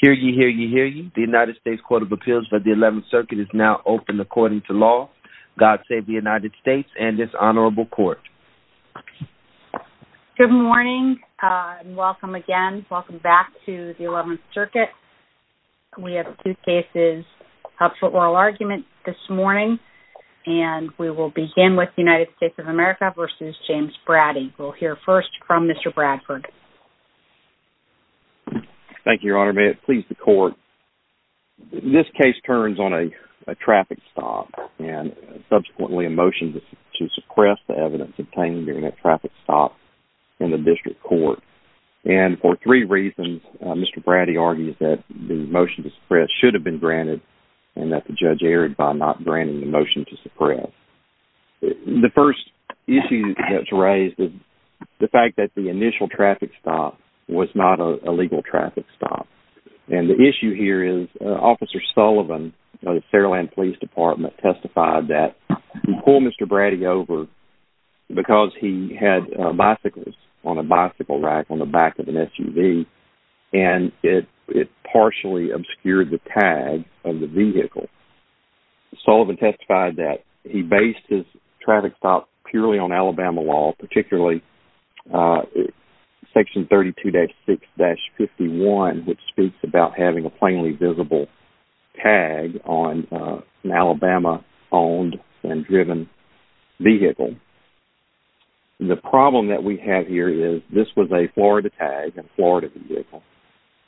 Hear ye, hear ye, hear ye. The United States Court of Appeals for the 11th Circuit is now open according to law. God save the United States and this honorable court. Good morning and welcome again. Welcome back to the 11th Circuit. We have two cases up for oral argument this morning and we will begin with United States of America v. James Braddy. We'll hear first from Mr. Bradford. Thank you, Your Honor. May it please the court, this case turns on a traffic stop and subsequently a motion to suppress the evidence obtained during that traffic stop in the district court. And for three reasons, Mr. Braddy argues that the motion to suppress should have been granted and that the judge erred by not granting the motion to suppress. The first issue that's raised is the fact that the initial traffic stop was not a legal traffic stop. And the issue here is Officer Sullivan of the Fairland Police Department testified that he pulled Mr. Braddy over because he had bicycles on a bicycle rack on the back of an SUV and it partially obscured the tag of the vehicle. Sullivan testified that he based his traffic stop purely on Alabama law, particularly Section 32-6-51, which speaks about having a plainly visible tag on an Alabama-owned and driven vehicle. The problem that we have here is this was a Florida tag on a Florida vehicle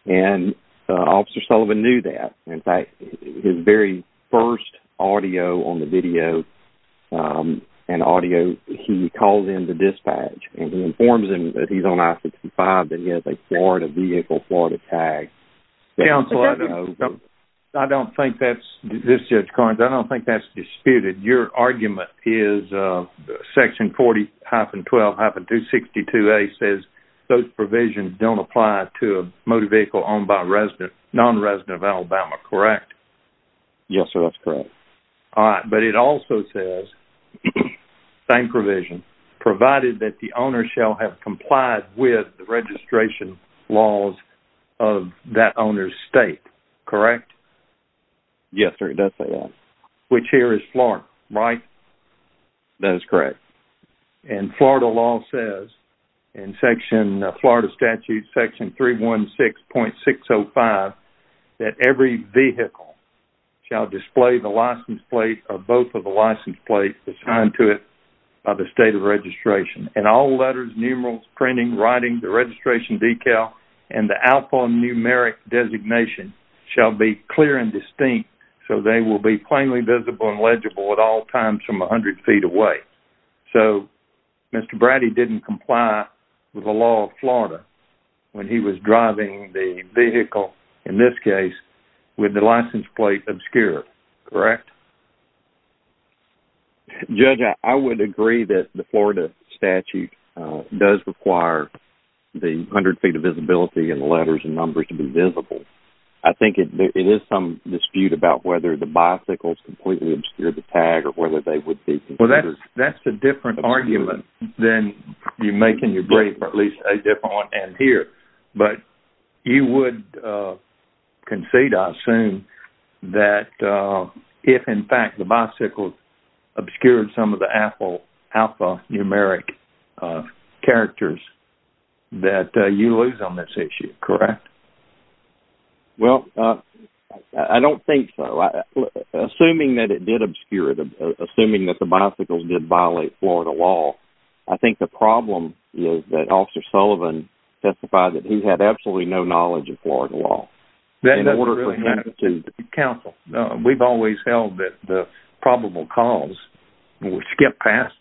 and Officer Sullivan knew that. In fact, his very first audio on the video and audio, he calls in the dispatch and he informs him that he's on I-65 and he has a Florida vehicle, Florida tag. Counsel, I don't think that's disputed. Your argument is Section 40-12-262A says those provisions don't apply to a motor vehicle owned by a non-resident of Alabama, correct? Yes, sir, that's correct. But it also says, same provision, provided that the owner shall have complied with the registration laws of that owner's state, correct? Yes, sir, that's correct. Which here is Florida, right? That is correct. And Florida law says in Florida Statute 316.605 that every vehicle shall display the license plate or both of the license plates assigned to it by the state of registration. And all letters, numerals, printing, writing, the registration decal, and the alphanumeric designation shall be clear and distinct so they will be plainly visible and legible at all times from 100 feet away. So, Mr. Braddy didn't comply with the law of Florida when he was driving the vehicle, in this case, with the license plate obscured, correct? Judge, I would agree that the Florida statute does require the 100 feet of visibility and the letters and numbers to be visible. I think it is some dispute about whether the bicycles completely obscure the tag or whether they would be. Well, that's a different argument than you making your brief, or at least a different one than here. But you would concede, I assume, that if, in fact, the bicycle obscured some of the alphanumeric characters that you lose on this issue, correct? Well, I don't think so. Assuming that it did obscure it, assuming that the bicycles did violate Florida law, I think the problem is that Officer Sullivan testified that he had absolutely no knowledge of Florida law. That doesn't really matter to counsel. We've always held that the probable cause, which gets past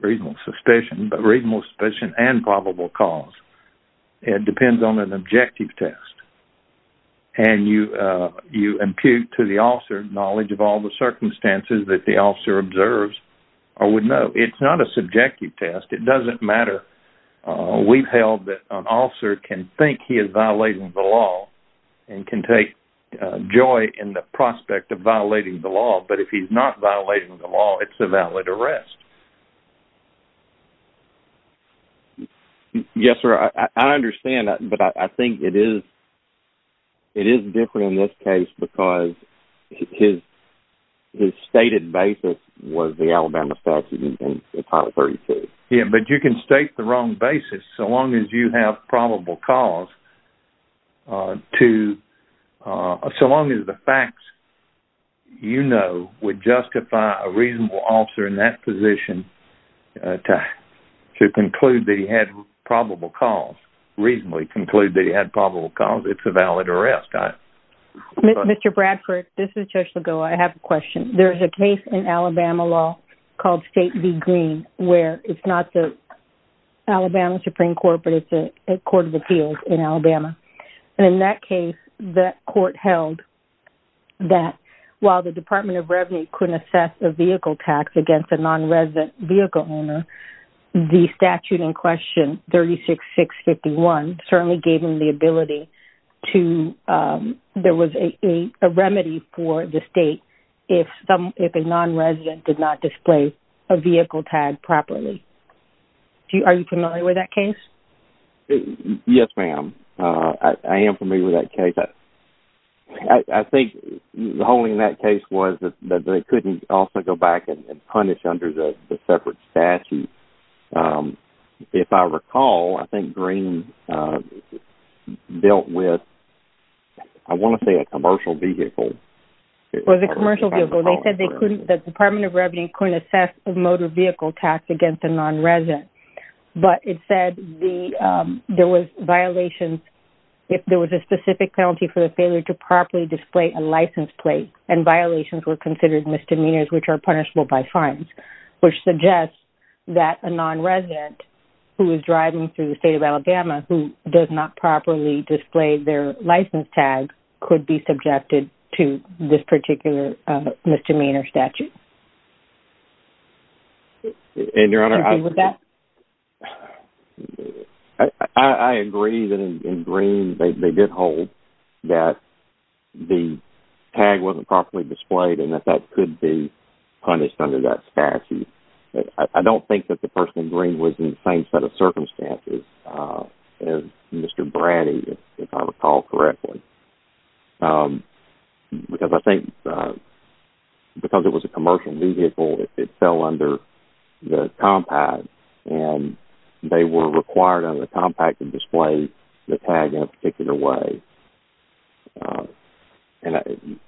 reasonable suspicion, but reasonable suspicion and probable cause depends on an objective test. And you impute to the officer knowledge of all the circumstances that the officer observes or would know. It's not a subjective test. It doesn't matter. We've held that an officer can think he is violating the law and can take joy in the prospect of violating the law. But if he's not violating the law, it's a valid arrest. Yes, sir. I understand, but I think it is different in this case because his stated basis was the Alabama statute in Title 32. Yes, but you can state the wrong basis so long as you have probable cause. So long as the facts you know would justify a reasonable officer in that position to reasonably conclude that he had probable cause, it's a valid arrest. Mr. Bradford, this is Judge Lagoa. I have a question. There's a case in Alabama law called State v. Green where it's not the Alabama Supreme Court, but it's a court of appeals in Alabama. And in that case, the court held that while the Department of Revenue couldn't assess a vehicle tax against a non-resident vehicle owner, the statute in question, 36-651, certainly gave them the ability to... There was a remedy for the state if a non-resident did not display a vehicle tag properly. Are you familiar with that case? Yes, ma'am. I am familiar with that case. I think the whole thing in that case was that they couldn't also go back and punish under the separate statute. If I recall, I think Green dealt with, I want to say a commercial vehicle. It was a commercial vehicle. They said the Department of Revenue couldn't assess a motor vehicle tax against a non-resident, but it said there was violations. If there was a specific penalty for the failure to properly display a license plate and violations were considered misdemeanors, which are punishable by fines, which suggests that a non-resident who is driving through the state of Alabama who does not properly display their license tag could be subjected to this particular misdemeanor statute. And, Your Honor, I... Do you agree with that? I agree that in Green they did hold that the tag wasn't properly displayed and that that could be punished under that statute. I don't think that the person in Green was in the same set of circumstances as Mr. Braddy, if I recall correctly. Because I think, because it was a commercial vehicle, it fell under the compact and they were required under the compact to display the tag in a particular way.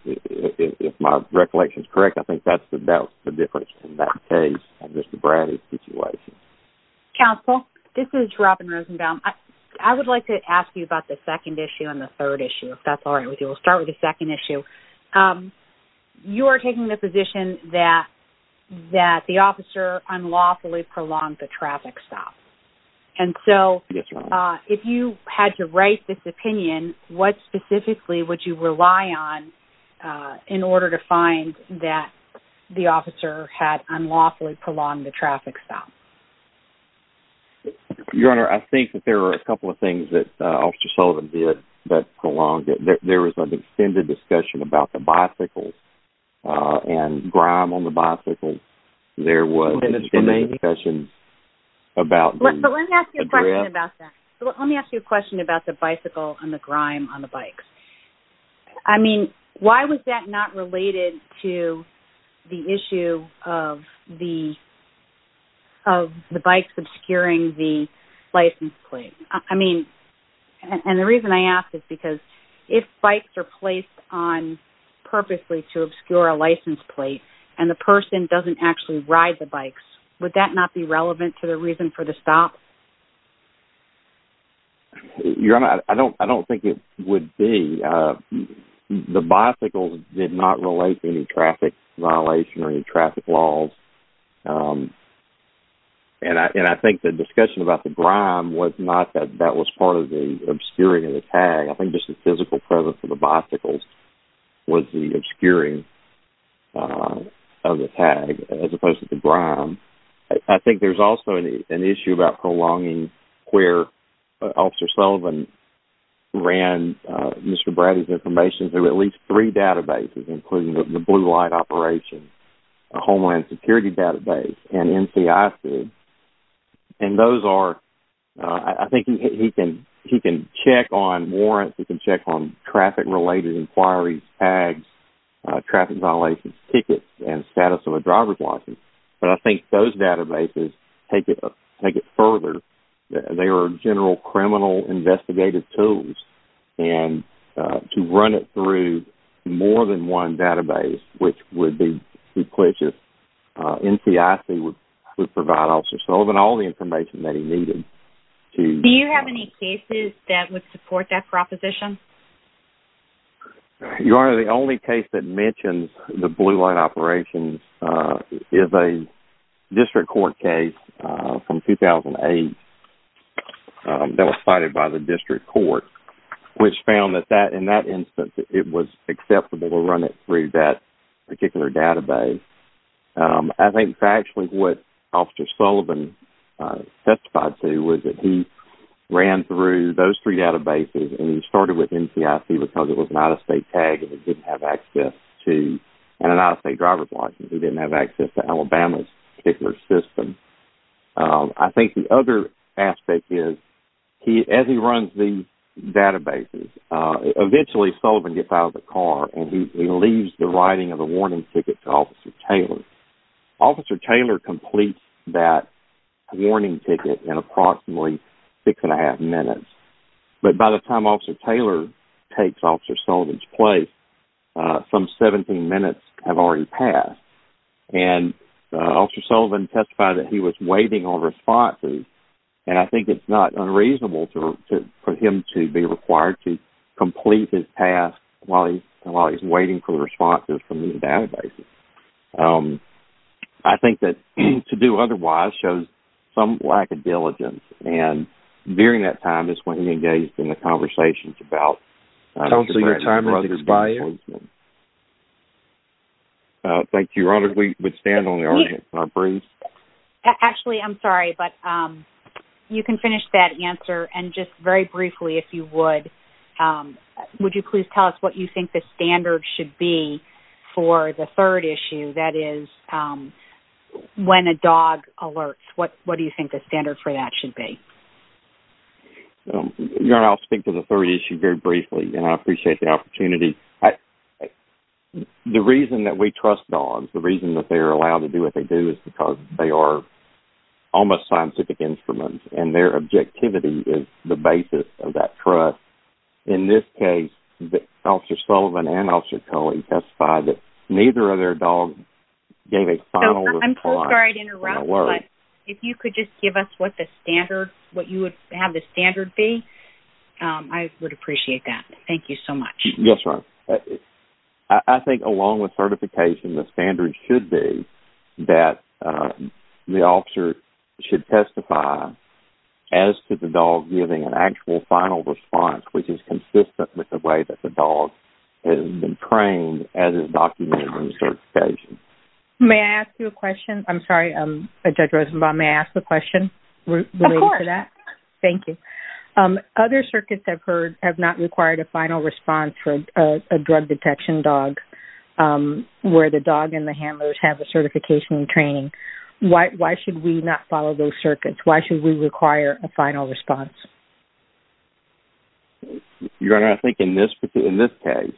If my recollection is correct, I think that's the difference in that case and Mr. Braddy's situation. Counsel, this is Robin Rosenbaum. I would like to ask you about the second issue and the third issue, if that's all right with you. We'll start with the second issue. You are taking the position that the officer unlawfully prolonged the traffic stop. And so, if you had to write this opinion, what specifically would you rely on in order to find that the officer had unlawfully prolonged the traffic stop? Your Honor, I think that there are a couple of things that Officer Sullivan did that prolonged it. There was an extended discussion about the bicycles and grime on the bicycles. There was an extended discussion about the... But let me ask you a question about that. Let me ask you a question about the bicycle and the grime on the bikes. I mean, why was that not related to the issue of the bikes obscuring the license plate? And the reason I ask is because if bikes are placed on purposely to obscure a license plate and the person doesn't actually ride the bikes, would that not be relevant to the reason for the stop? Your Honor, I don't think it would be. The bicycles did not relate to any traffic violation or any traffic laws. And I think the discussion about the grime was not that that was part of the obscuring of the tag. I think just the physical presence of the bicycles was the obscuring of the tag as opposed to the grime. I think there's also an issue about prolonging where Officer Sullivan ran Mr. Brady's information through at least three databases, including the Blue Light Operation, Homeland Security Database, and NCISB. And those are... I think he can check on warrants. He can check on traffic-related inquiries, tags, traffic violations, tickets, and status of a driver's license. But I think those databases take it further. They are general criminal investigative tools. And to run it through more than one database, which would be successful, NCISB would provide Officer Sullivan all the information that he needed. Do you have any cases that would support that proposition? Your Honor, the only case that mentions the Blue Light Operation is a district court case from 2008 that was cited by the district court, which found that in that instance it was acceptable to run it through that particular database. I think actually what Officer Sullivan testified to was that he ran through those three databases and he started with NCISB because it was an out-of-state tag and an out-of-state driver's license. He didn't have access to Alabama's particular system. I think the other aspect is, as he runs these databases, eventually Sullivan gets out of the car and he leaves the writing of the warning ticket to Officer Taylor. Officer Taylor completes that warning ticket in approximately six and a half minutes. But by the time Officer Taylor takes Officer Sullivan's place, some 17 minutes have already passed. And Officer Sullivan testified that he was waiting on responses. And I think it's not unreasonable for him to be required to complete his task while he's waiting for responses from these databases. I think that to do otherwise shows some lack of diligence. And during that time is when he engaged in the conversations about... Counsel, your time has expired. Thank you, Your Honor. We would stand on the argument. Actually, I'm sorry, but you can finish that answer. And just very briefly, if you would, would you please tell us what you think the standard should be for the third issue? That is, when a dog alerts. What do you think the standard for that should be? Your Honor, I'll speak to the third issue very briefly. And I appreciate the opportunity. The reason that we trust dogs, the reason that they are allowed to do what they do, is because they are almost scientific instruments. And their objectivity is the basis of that trust. In this case, Officer Sullivan and Officer Culley testified that neither of their dogs gave a final response. I'm so sorry to interrupt, but if you could just give us what the standard, what you would have the standard be, I would appreciate that. Thank you so much. Yes, Your Honor. I think along with certification, the standard should be that the officer should testify as to the dog giving an actual final response, which is consistent with the way that the dog has been trained as is documented in the certification. May I ask you a question? I'm sorry, Judge Rosenbaum, may I ask a question related to that? Of course. Thank you. Other circuits I've heard have not required a final response for a drug detection dog, where the dog and the handlers have the certification and training. Why should we not follow those circuits? Why should we require a final response? Your Honor, I think in this case,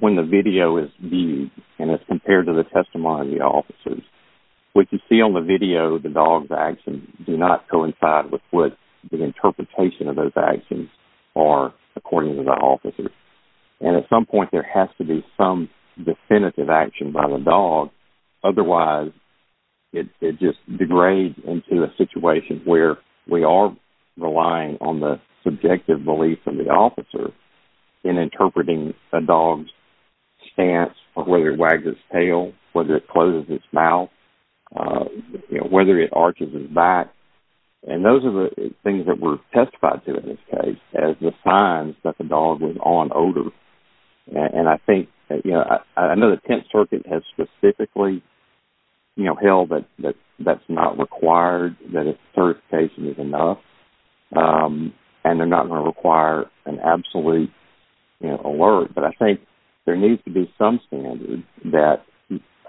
when the video is viewed and it's compared to the testimony of the officers, what you see on the video of the dog's actions do not coincide with what the interpretation of those actions are according to the officers. At some point, there has to be some definitive action by the dog. Otherwise, it just degrades into a situation where we are relying on the subjective belief of the officer in interpreting a dog's stance or whether it wags its tail, whether it closes its mouth, whether it arches its back. Those are the things that we're testifying to in this case as the signs that the dog was on odor. I know the 10th Circuit has specifically held that that's not required, that a certification is enough, and they're not going to require an absolute alert. But I think there needs to be some standard that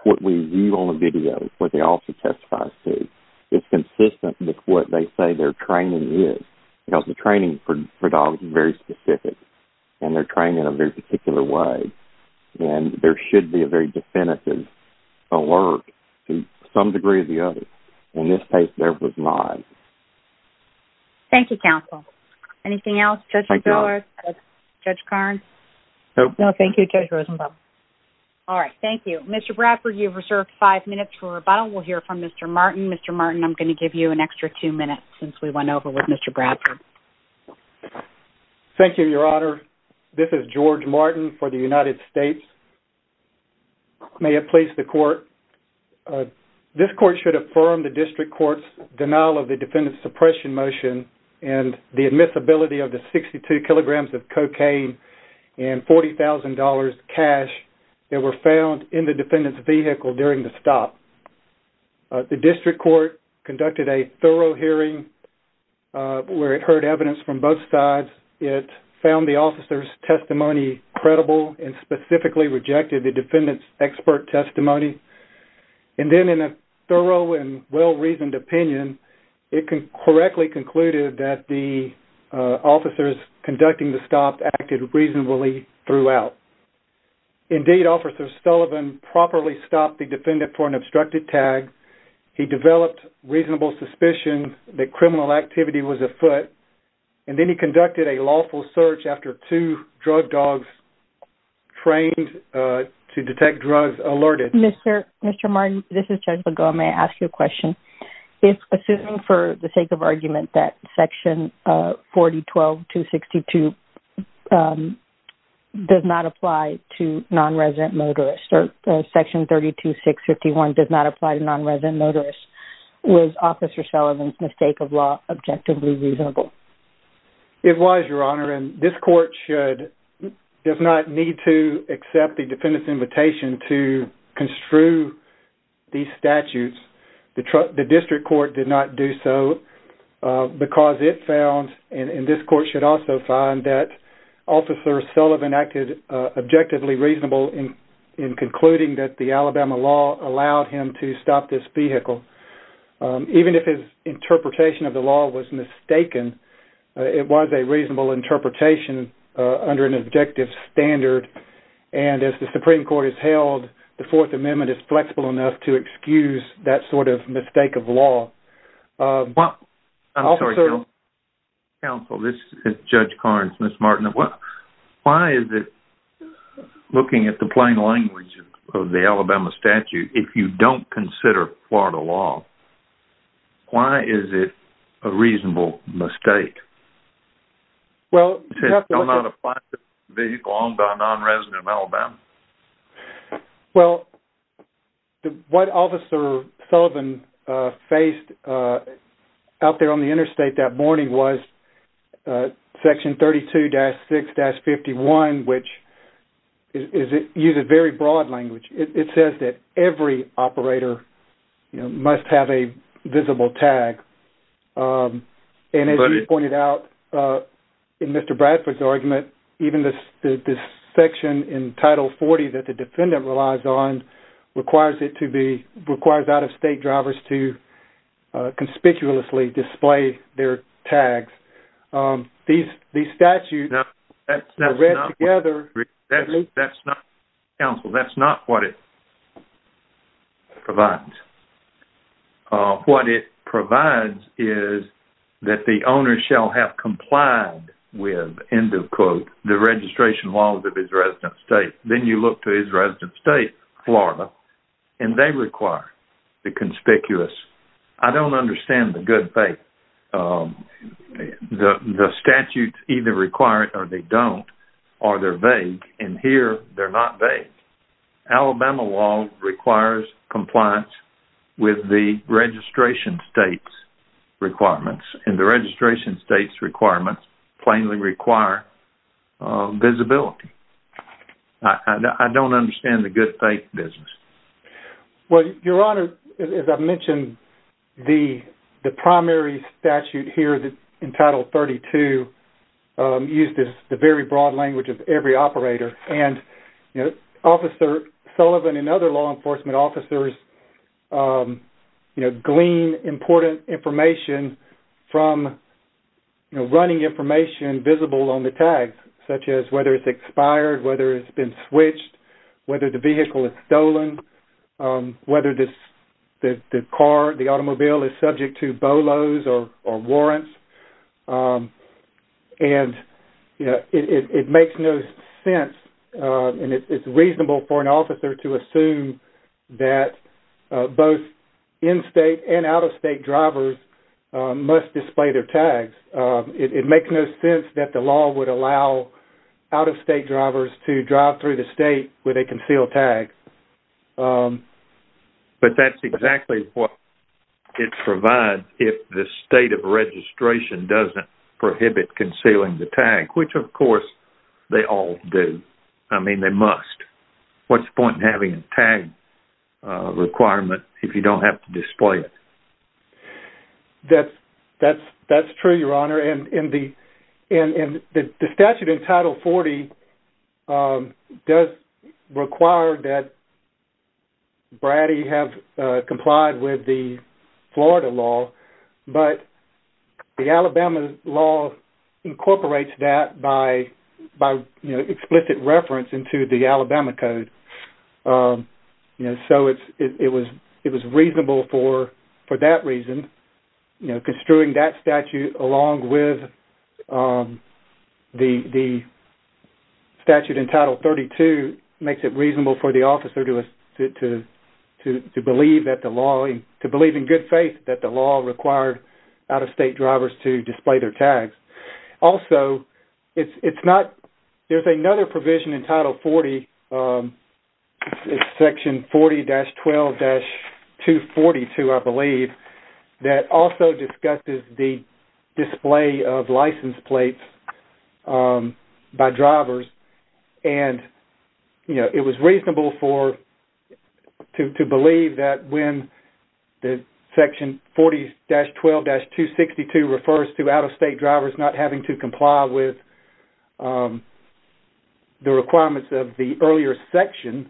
what we view on the video, what the officer testifies to, is consistent with what they say their training is. Because the training for dogs is very specific, and they're trained in a very particular way, and there should be a very definitive alert to some degree or the other. In this case, there was not. Thank you, counsel. Anything else? Thank you. Judge Miller? No. Judge Karnes? No. No, thank you. Judge Rosenbaum? All right, thank you. Mr. Bradford, you have reserved five minutes for rebuttal. We'll hear from Mr. Martin. Mr. Martin, I'm going to give you an extra two minutes since we went over with Mr. Bradford. Thank you, Your Honor. This is George Martin for the United States. May it please the Court. This Court should affirm the District Court's denial of the defendant's suppression motion and the admissibility of the 62 kilograms of cocaine and $40,000 cash that were found in the defendant's vehicle during the stop. The District Court conducted a thorough hearing where it heard evidence from both sides. It found the officer's testimony credible and specifically rejected the defendant's expert testimony. And then in a thorough and well-reasoned opinion, it correctly concluded that the officers conducting the stop acted reasonably throughout. Indeed, Officer Sullivan properly stopped the defendant for an obstructed tag. He developed reasonable suspicion that criminal activity was afoot. And then he conducted a lawful search after two drug dogs trained to detect drugs alerted. Mr. Martin, this is Judge Begum. May I ask you a question? If, assuming for the sake of argument, that Section 4012-262 does not apply to non-resident motorists, or Section 32-651 does not apply to non-resident motorists, was Officer Sullivan's mistake of law objectively reasonable? It was, Your Honor. And this Court does not need to accept the defendant's invitation to construe these statutes. The District Court did not do so because it found, and this Court should also find, that Officer Sullivan acted objectively reasonable in concluding that the Alabama law allowed him to stop this vehicle. Even if his interpretation of the law was mistaken, it was a reasonable interpretation under an objective standard. And as the Supreme Court has held, the Fourth Amendment is flexible enough to excuse that sort of mistake of law. I'm sorry, Counsel. This is Judge Carnes. Mr. Martin, why is it, looking at the plain language of the Alabama statute, if you don't consider Florida law, why is it a reasonable mistake? It does not apply to vehicles owned by non-residents of Alabama. Well, what Officer Sullivan faced out there on the interstate that morning was Section 32-6-51, which uses very broad language. It says that every operator must have a visible tag. And as you pointed out in Mr. Bradford's argument, even this section in Title 40 that the defendant relies on requires out-of-state drivers to conspicuously display their tags. These statutes are read together. That's not what it provides. What it provides is that the owner shall have complied with, end of quote, the registration laws of his resident state. Then you look to his resident state, Florida, and they require the conspicuous. I don't understand the good faith. The statutes either require it or they don't, or they're vague. And here, they're not vague. Alabama law requires compliance with the registration state's requirements, and the registration state's requirements plainly require visibility. I don't understand the good faith business. Well, Your Honor, as I mentioned, the primary statute here in Title 32 uses the very broad language of every operator. Officer Sullivan and other law enforcement officers glean important information from running information visible on the tags, such as whether it's expired, whether it's been switched, whether the vehicle is stolen, whether the car, the automobile, is subject to BOLOs or warrants. And it makes no sense, and it's reasonable for an officer to assume that both in-state and out-of-state drivers must display their tags. It makes no sense that the law would allow out-of-state drivers to drive through the state with a concealed tag. But that's exactly what it provides if the state of registration doesn't prohibit concealing the tag, which, of course, they all do. I mean, they must. What's the point in having a tag requirement if you don't have to display it? That's true, Your Honor. And the statute in Title 40 does require that BRADI have complied with the Florida law, but the Alabama law incorporates that by explicit reference into the Alabama code. So it was reasonable for that reason. Construing that statute along with the statute in Title 32 makes it reasonable for the officer to believe in good faith that the law required out-of-state drivers to display their tags. Also, there's another provision in Title 40, Section 40-12-242, I believe, that also discusses the display of license plates by drivers. And it was reasonable to believe that when Section 40-12-262 refers to out-of-state drivers not having to comply with the requirements of the earlier section,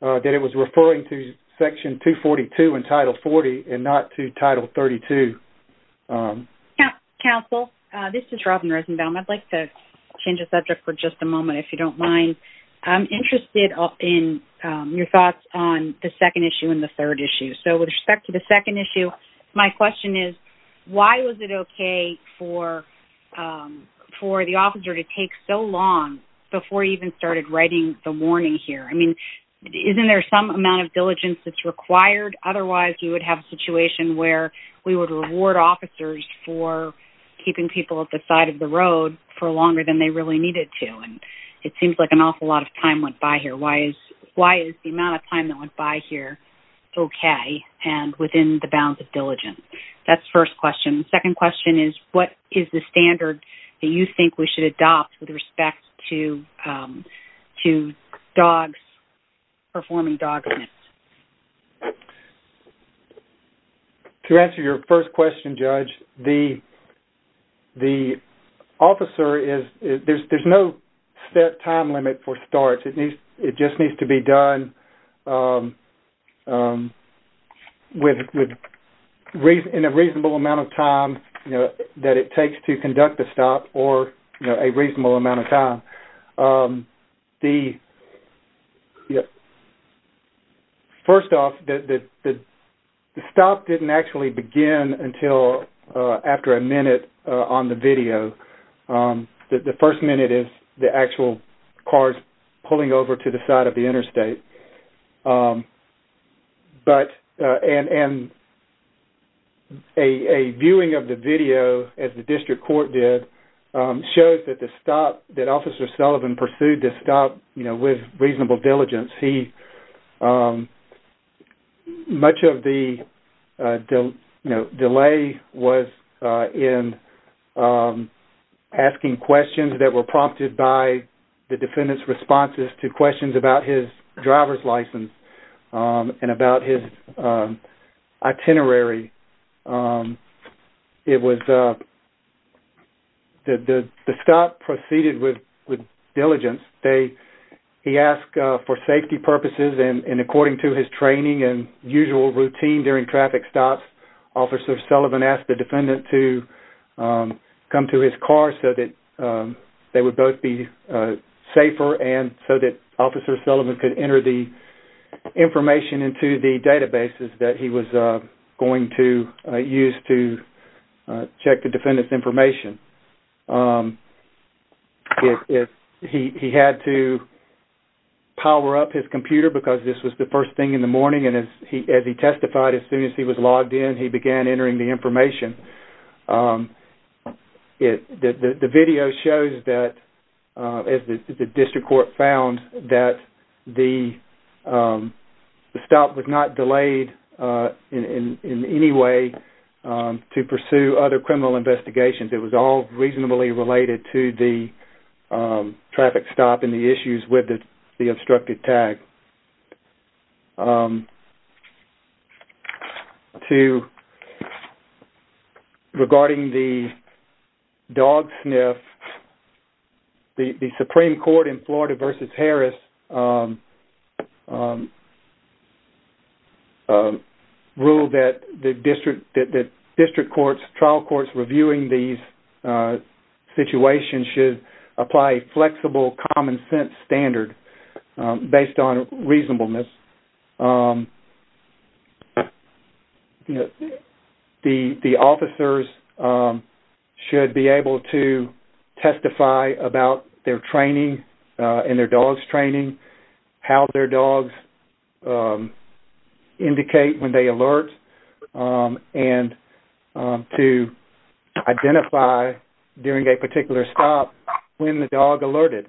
that it was referring to Section 242 in Title 40 and not to Title 32. Counsel, this is Robin Rosenbaum. I'd like to change the subject for just a moment, if you don't mind. I'm interested in your thoughts on the second issue and the third issue. So with respect to the second issue, my question is, why was it okay for the officer to take so long before he even started writing the warning here? I mean, isn't there some amount of diligence that's required? Otherwise, we would have a situation where we would reward officers for keeping people at the side of the road for longer than they really needed to. And it seems like an awful lot of time went by here. Why is the amount of time that went by here okay and within the bounds of diligence? That's the first question. The second question is, what is the standard that you think we should adopt with respect to performing dog smiths? To answer your first question, Judge, the officer is – there's no set time limit for starts. It just needs to be done in a reasonable amount of time that it takes to conduct a stop or a reasonable amount of time. First off, the stop didn't actually begin until after a minute on the video. The first minute is the actual cars pulling over to the side of the interstate. And a viewing of the video, as the district court did, shows that the stop – that Officer Sullivan pursued the stop with reasonable diligence. He – much of the delay was in asking questions that were prompted by the defendant's responses to questions about his driver's license and about his itinerary. It was – the stop proceeded with diligence. He asked for safety purposes, and according to his training and usual routine during traffic stops, Officer Sullivan asked the defendant to come to his car so that they would both be safer and so that Officer Sullivan could enter the information into the databases that he was going to use to check the defendant's information. He had to power up his computer because this was the first thing in the morning, and as he testified, as soon as he was logged in, he began entering the information. The video shows that, as the district court found, that the stop was not delayed in any way to pursue other criminal investigations. It was all reasonably related to the traffic stop and the issues with the obstructed tag. To – regarding the dog sniff, the Supreme Court in Florida v. Harris ruled that the district – that district courts, trial courts reviewing these situations should apply a flexible, common-sense standard based on reasonableness. The officers should be able to testify about their training and their dog's training, how their dogs indicate when they alert, and to identify during a particular stop when the dog alerted.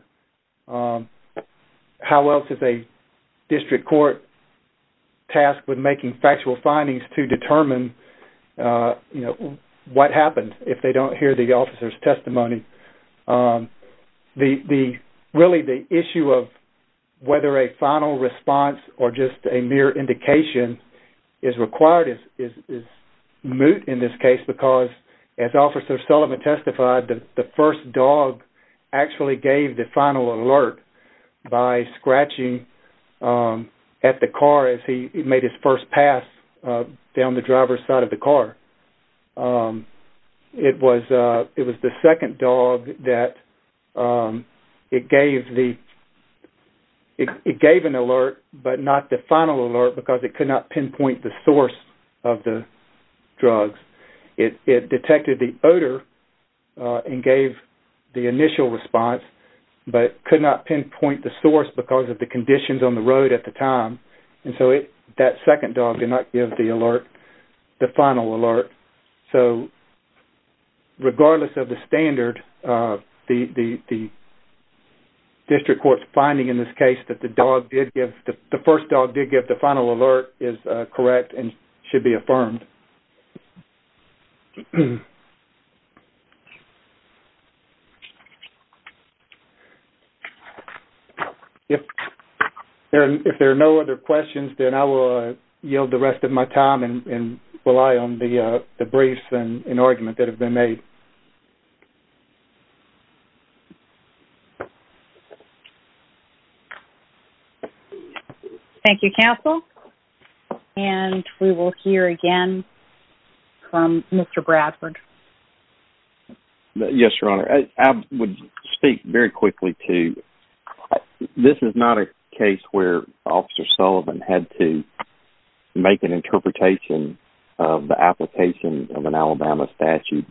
How else is a district court tasked with making factual findings to determine, you know, what happens if they don't hear the officer's testimony? The – really, the issue of whether a final response or just a mere indication is required is moot in this case because, as Officer Sullivan testified, the first dog actually gave the final alert by scratching at the car as he made his first pass down the driver's side of the car. It was – it was the second dog that it gave the – it gave an alert but not the final alert because it could not pinpoint the source of the drugs. It – it detected the odor and gave the initial response but could not pinpoint the source because of the conditions on the road at the time. And so it – that second dog did not give the alert – the final alert. So, regardless of the standard, the district court's finding in this case that the dog did give – the first dog did give the final alert is correct and should be affirmed. If there are no other questions, then I will yield the rest of my time and rely on the briefs and argument that have been made. Thank you, counsel. And we will hear again from Mr. Bradford. Yes, Your Honor. I would speak very quickly to – this is not a case where Officer Sullivan had to make an interpretation of the application of an Alabama statute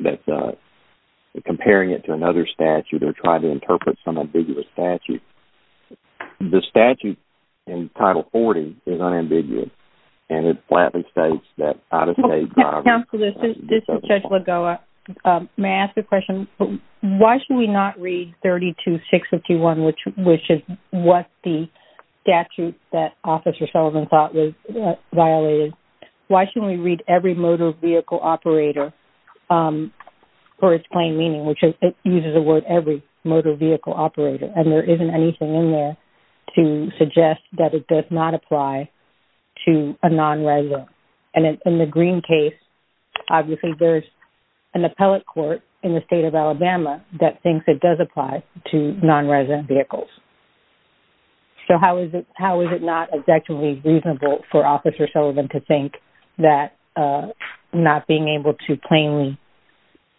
that's comparing it to another statute or try to interpret some ambiguous statute. The statute in Title 40 is unambiguous and it flatly states that out-of-state drivers – Counsel, this is Judge Lagoa. May I ask a question? Why should we not read 32-651, which is what the statute that Officer Sullivan thought was violated? Why shouldn't we read every motor vehicle operator for its plain meaning, which it uses the word every motor vehicle operator? And there isn't anything in there to suggest that it does not apply to a non-resident. And in the Green case, obviously there's an appellate court in the state of Alabama that thinks it does apply to non-resident vehicles. So how is it not objectively reasonable for Officer Sullivan to think that not being able to plainly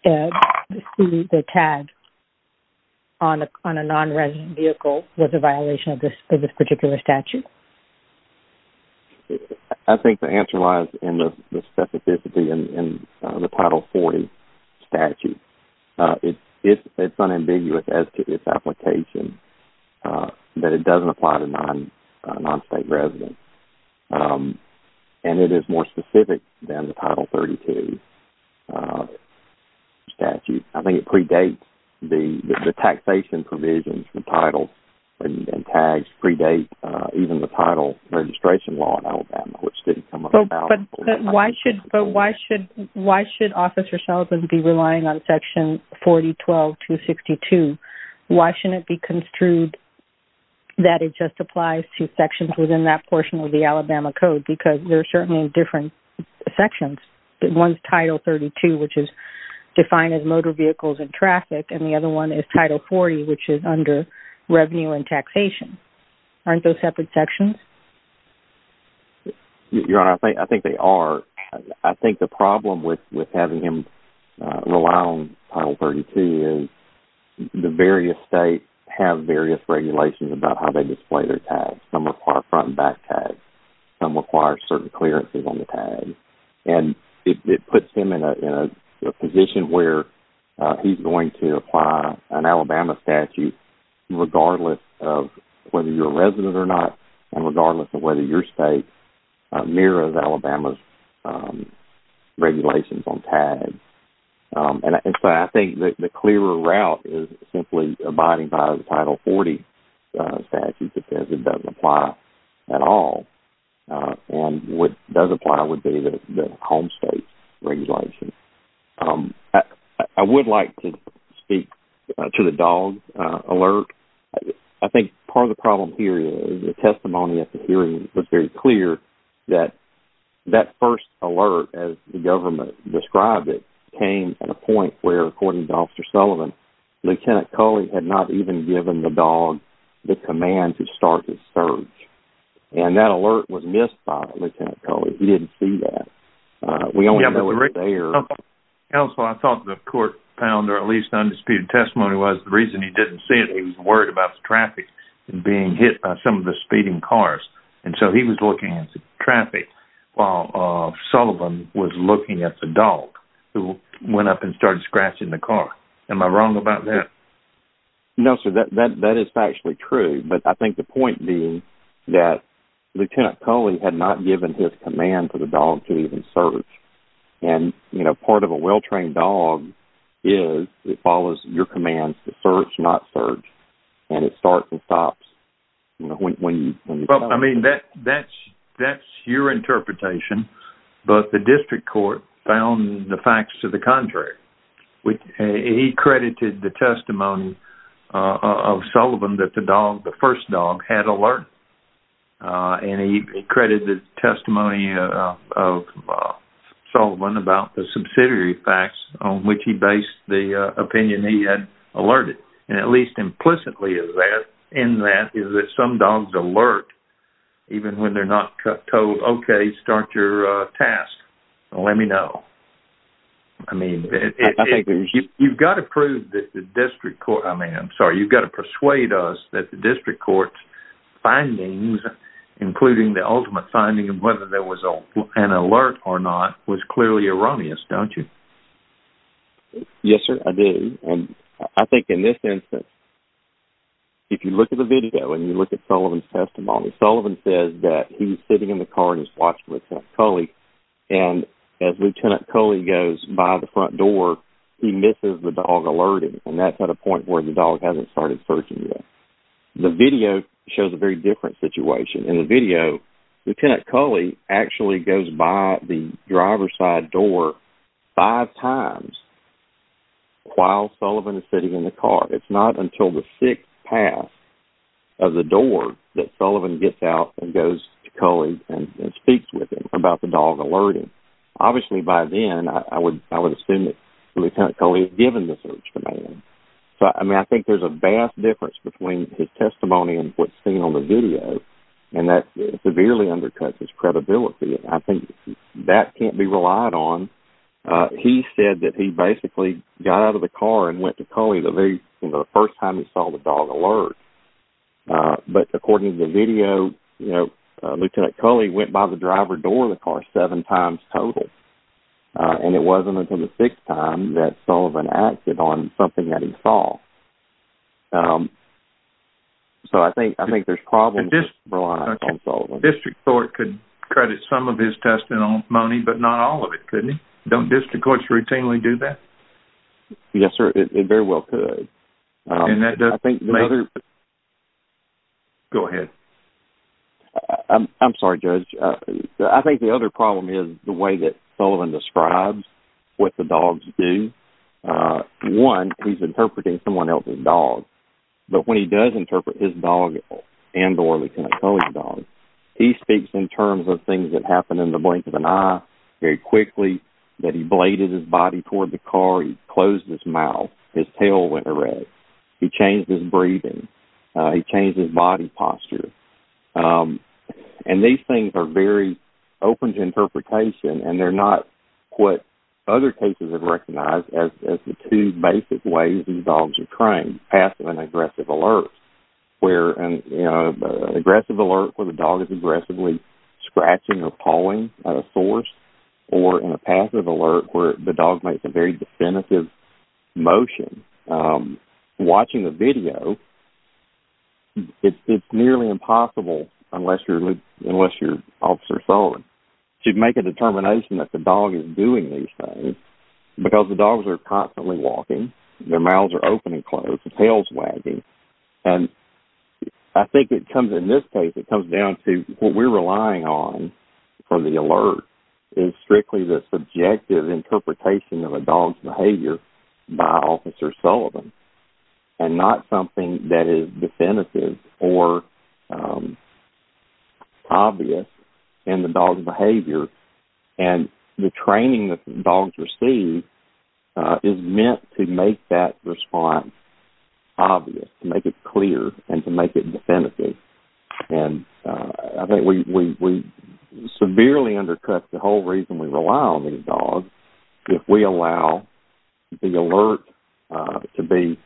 see the tag on a non-resident vehicle was a violation of this particular statute? I think the answer lies in the specificity in the Title 40 statute. It's unambiguous as to its application that it doesn't apply to non-state residents. And it is more specific than the Title 32 statute. I think it predates the taxation provisions. The title and tags predate even the title registration law in Alabama, which didn't come about. But why should Officer Sullivan be relying on Section 4012-262? Why shouldn't it be construed that it just applies to sections within that portion of the Alabama Code? Because there are certainly different sections. One is Title 32, which is defined as motor vehicles and traffic. And the other one is Title 40, which is under revenue and taxation. Aren't those separate sections? Your Honor, I think they are. I think the problem with having him rely on Title 32 is the various states have various regulations about how they display their tags. Some require front and back tags. Some require certain clearances on the tags. And it puts him in a position where he's going to apply an Alabama statute regardless of whether you're a resident or not, and regardless of whether your state mirrors Alabama's regulations on tags. And so I think the clearer route is simply abiding by the Title 40 statute that says it doesn't apply at all. And what does apply would be the home state regulation. I would like to speak to the dog alert. I think part of the problem here is the testimony at the hearing was very clear that that first alert, as the government described it, came at a point where, according to Officer Sullivan, Lieutenant Culley had not even given the dog the command to start his search. And that alert was missed by Lieutenant Culley. He didn't see that. Counsel, I thought the court found, or at least the undisputed testimony was, the reason he didn't see it, he was worried about the traffic being hit by some of the speeding cars. And so he was looking at the traffic while Sullivan was looking at the dog who went up and started scratching the car. Am I wrong about that? No, sir. That is factually true. But I think the point being that Lieutenant Culley had not given his command for the dog to even search. And, you know, part of a well-trained dog is it follows your commands to search, not search. And it starts and stops when you tell it to. Well, I mean, that's your interpretation. But the district court found the facts to the contrary. He credited the testimony of Sullivan that the dog, the first dog, had alert. And he credited the testimony of Sullivan about the subsidiary facts on which he based the opinion he had alerted. And at least implicitly in that is that some dogs alert even when they're not told, okay, start your task, let me know. I mean, you've got to prove that the district court, I mean, I'm sorry, you've got to persuade us that the district court's findings, including the ultimate finding of whether there was an alert or not, was clearly erroneous, don't you? Yes, sir, I did. And I think in this instance, if you look at the video and you look at Sullivan's testimony, Sullivan says that he's sitting in the car and he's watching Lieutenant Culley. And as Lieutenant Culley goes by the front door, he misses the dog alerting. And that's at a point where the dog hasn't started searching yet. The video shows a very different situation. In the video, Lieutenant Culley actually goes by the driver's side door five times while Sullivan is sitting in the car. It's not until the sixth pass of the door that Sullivan gets out and goes to Culley and speaks with him about the dog alerting. Obviously, by then, I would assume that Lieutenant Culley had given the search command. So, I mean, I think there's a vast difference between his testimony and what's seen on the video. And that severely undercuts his credibility. I think that can't be relied on. He said that he basically got out of the car and went to Culley the first time he saw the dog alert. But according to the video, Lieutenant Culley went by the driver's door of the car seven times total. And it wasn't until the sixth time that Sullivan acted on something that he saw. So, I think there's problems to rely on Sullivan. The district court could credit some of his testimony, but not all of it, couldn't it? Don't district courts routinely do that? Yes, sir. It very well could. Go ahead. I'm sorry, Judge. I think the other problem is the way that Sullivan describes what the dogs do. One, he's interpreting someone else's dog. But when he does interpret his dog and or Lieutenant Culley's dog, he speaks in terms of things that happened in the blink of an eye, very quickly, that he bladed his body toward the car, he closed his mouth, his tail went red, he changed his breathing, he changed his body posture. And these things are very open to interpretation, and they're not what other cases have recognized as the two basic ways these dogs are trained, in passive and aggressive alerts, where an aggressive alert where the dog is aggressively scratching or pawing at a source, or in a passive alert where the dog makes a very definitive motion. Watching the video, it's nearly impossible unless you're Officer Sullivan. To make a determination that the dog is doing these things, because the dogs are constantly walking, their mouths are open and closed, the tail's wagging. And I think it comes, in this case, it comes down to what we're relying on for the alert is strictly the subjective interpretation of a dog's behavior by Officer Sullivan, and not something that is definitive or obvious in the dog's behavior. And the training that dogs receive is meant to make that response obvious, to make it clear, and to make it definitive. And I think we severely undercut the whole reason we rely on these dogs if we allow the alert to be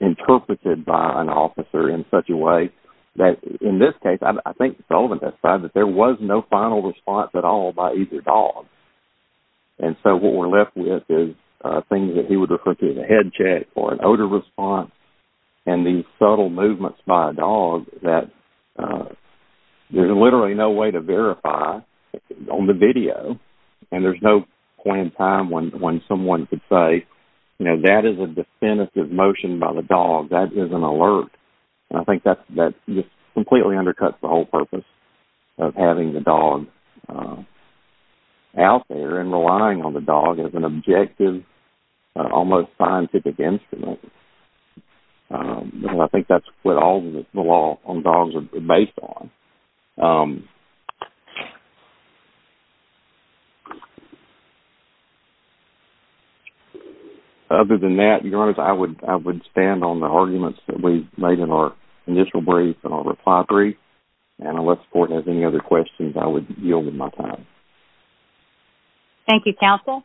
interpreted by an officer in such a way that, in this case, I think Sullivan has said that there was no final response at all by either dog. And so what we're left with is things that he would refer to as a head check or an odor response, and these subtle movements by a dog that there's literally no way to verify on the video. And there's no point in time when someone could say, you know, that is a definitive motion by the dog, that is an alert. And I think that just completely undercuts the whole purpose of having the dog out there and relying on the dog as an objective, almost scientific instrument. And I think that's what all the law on dogs is based on. Other than that, Your Honors, I would stand on the arguments that we've made in our initial brief and our reply brief. And unless Fortin has any other questions, I would yield with my time. Thank you, Counsel.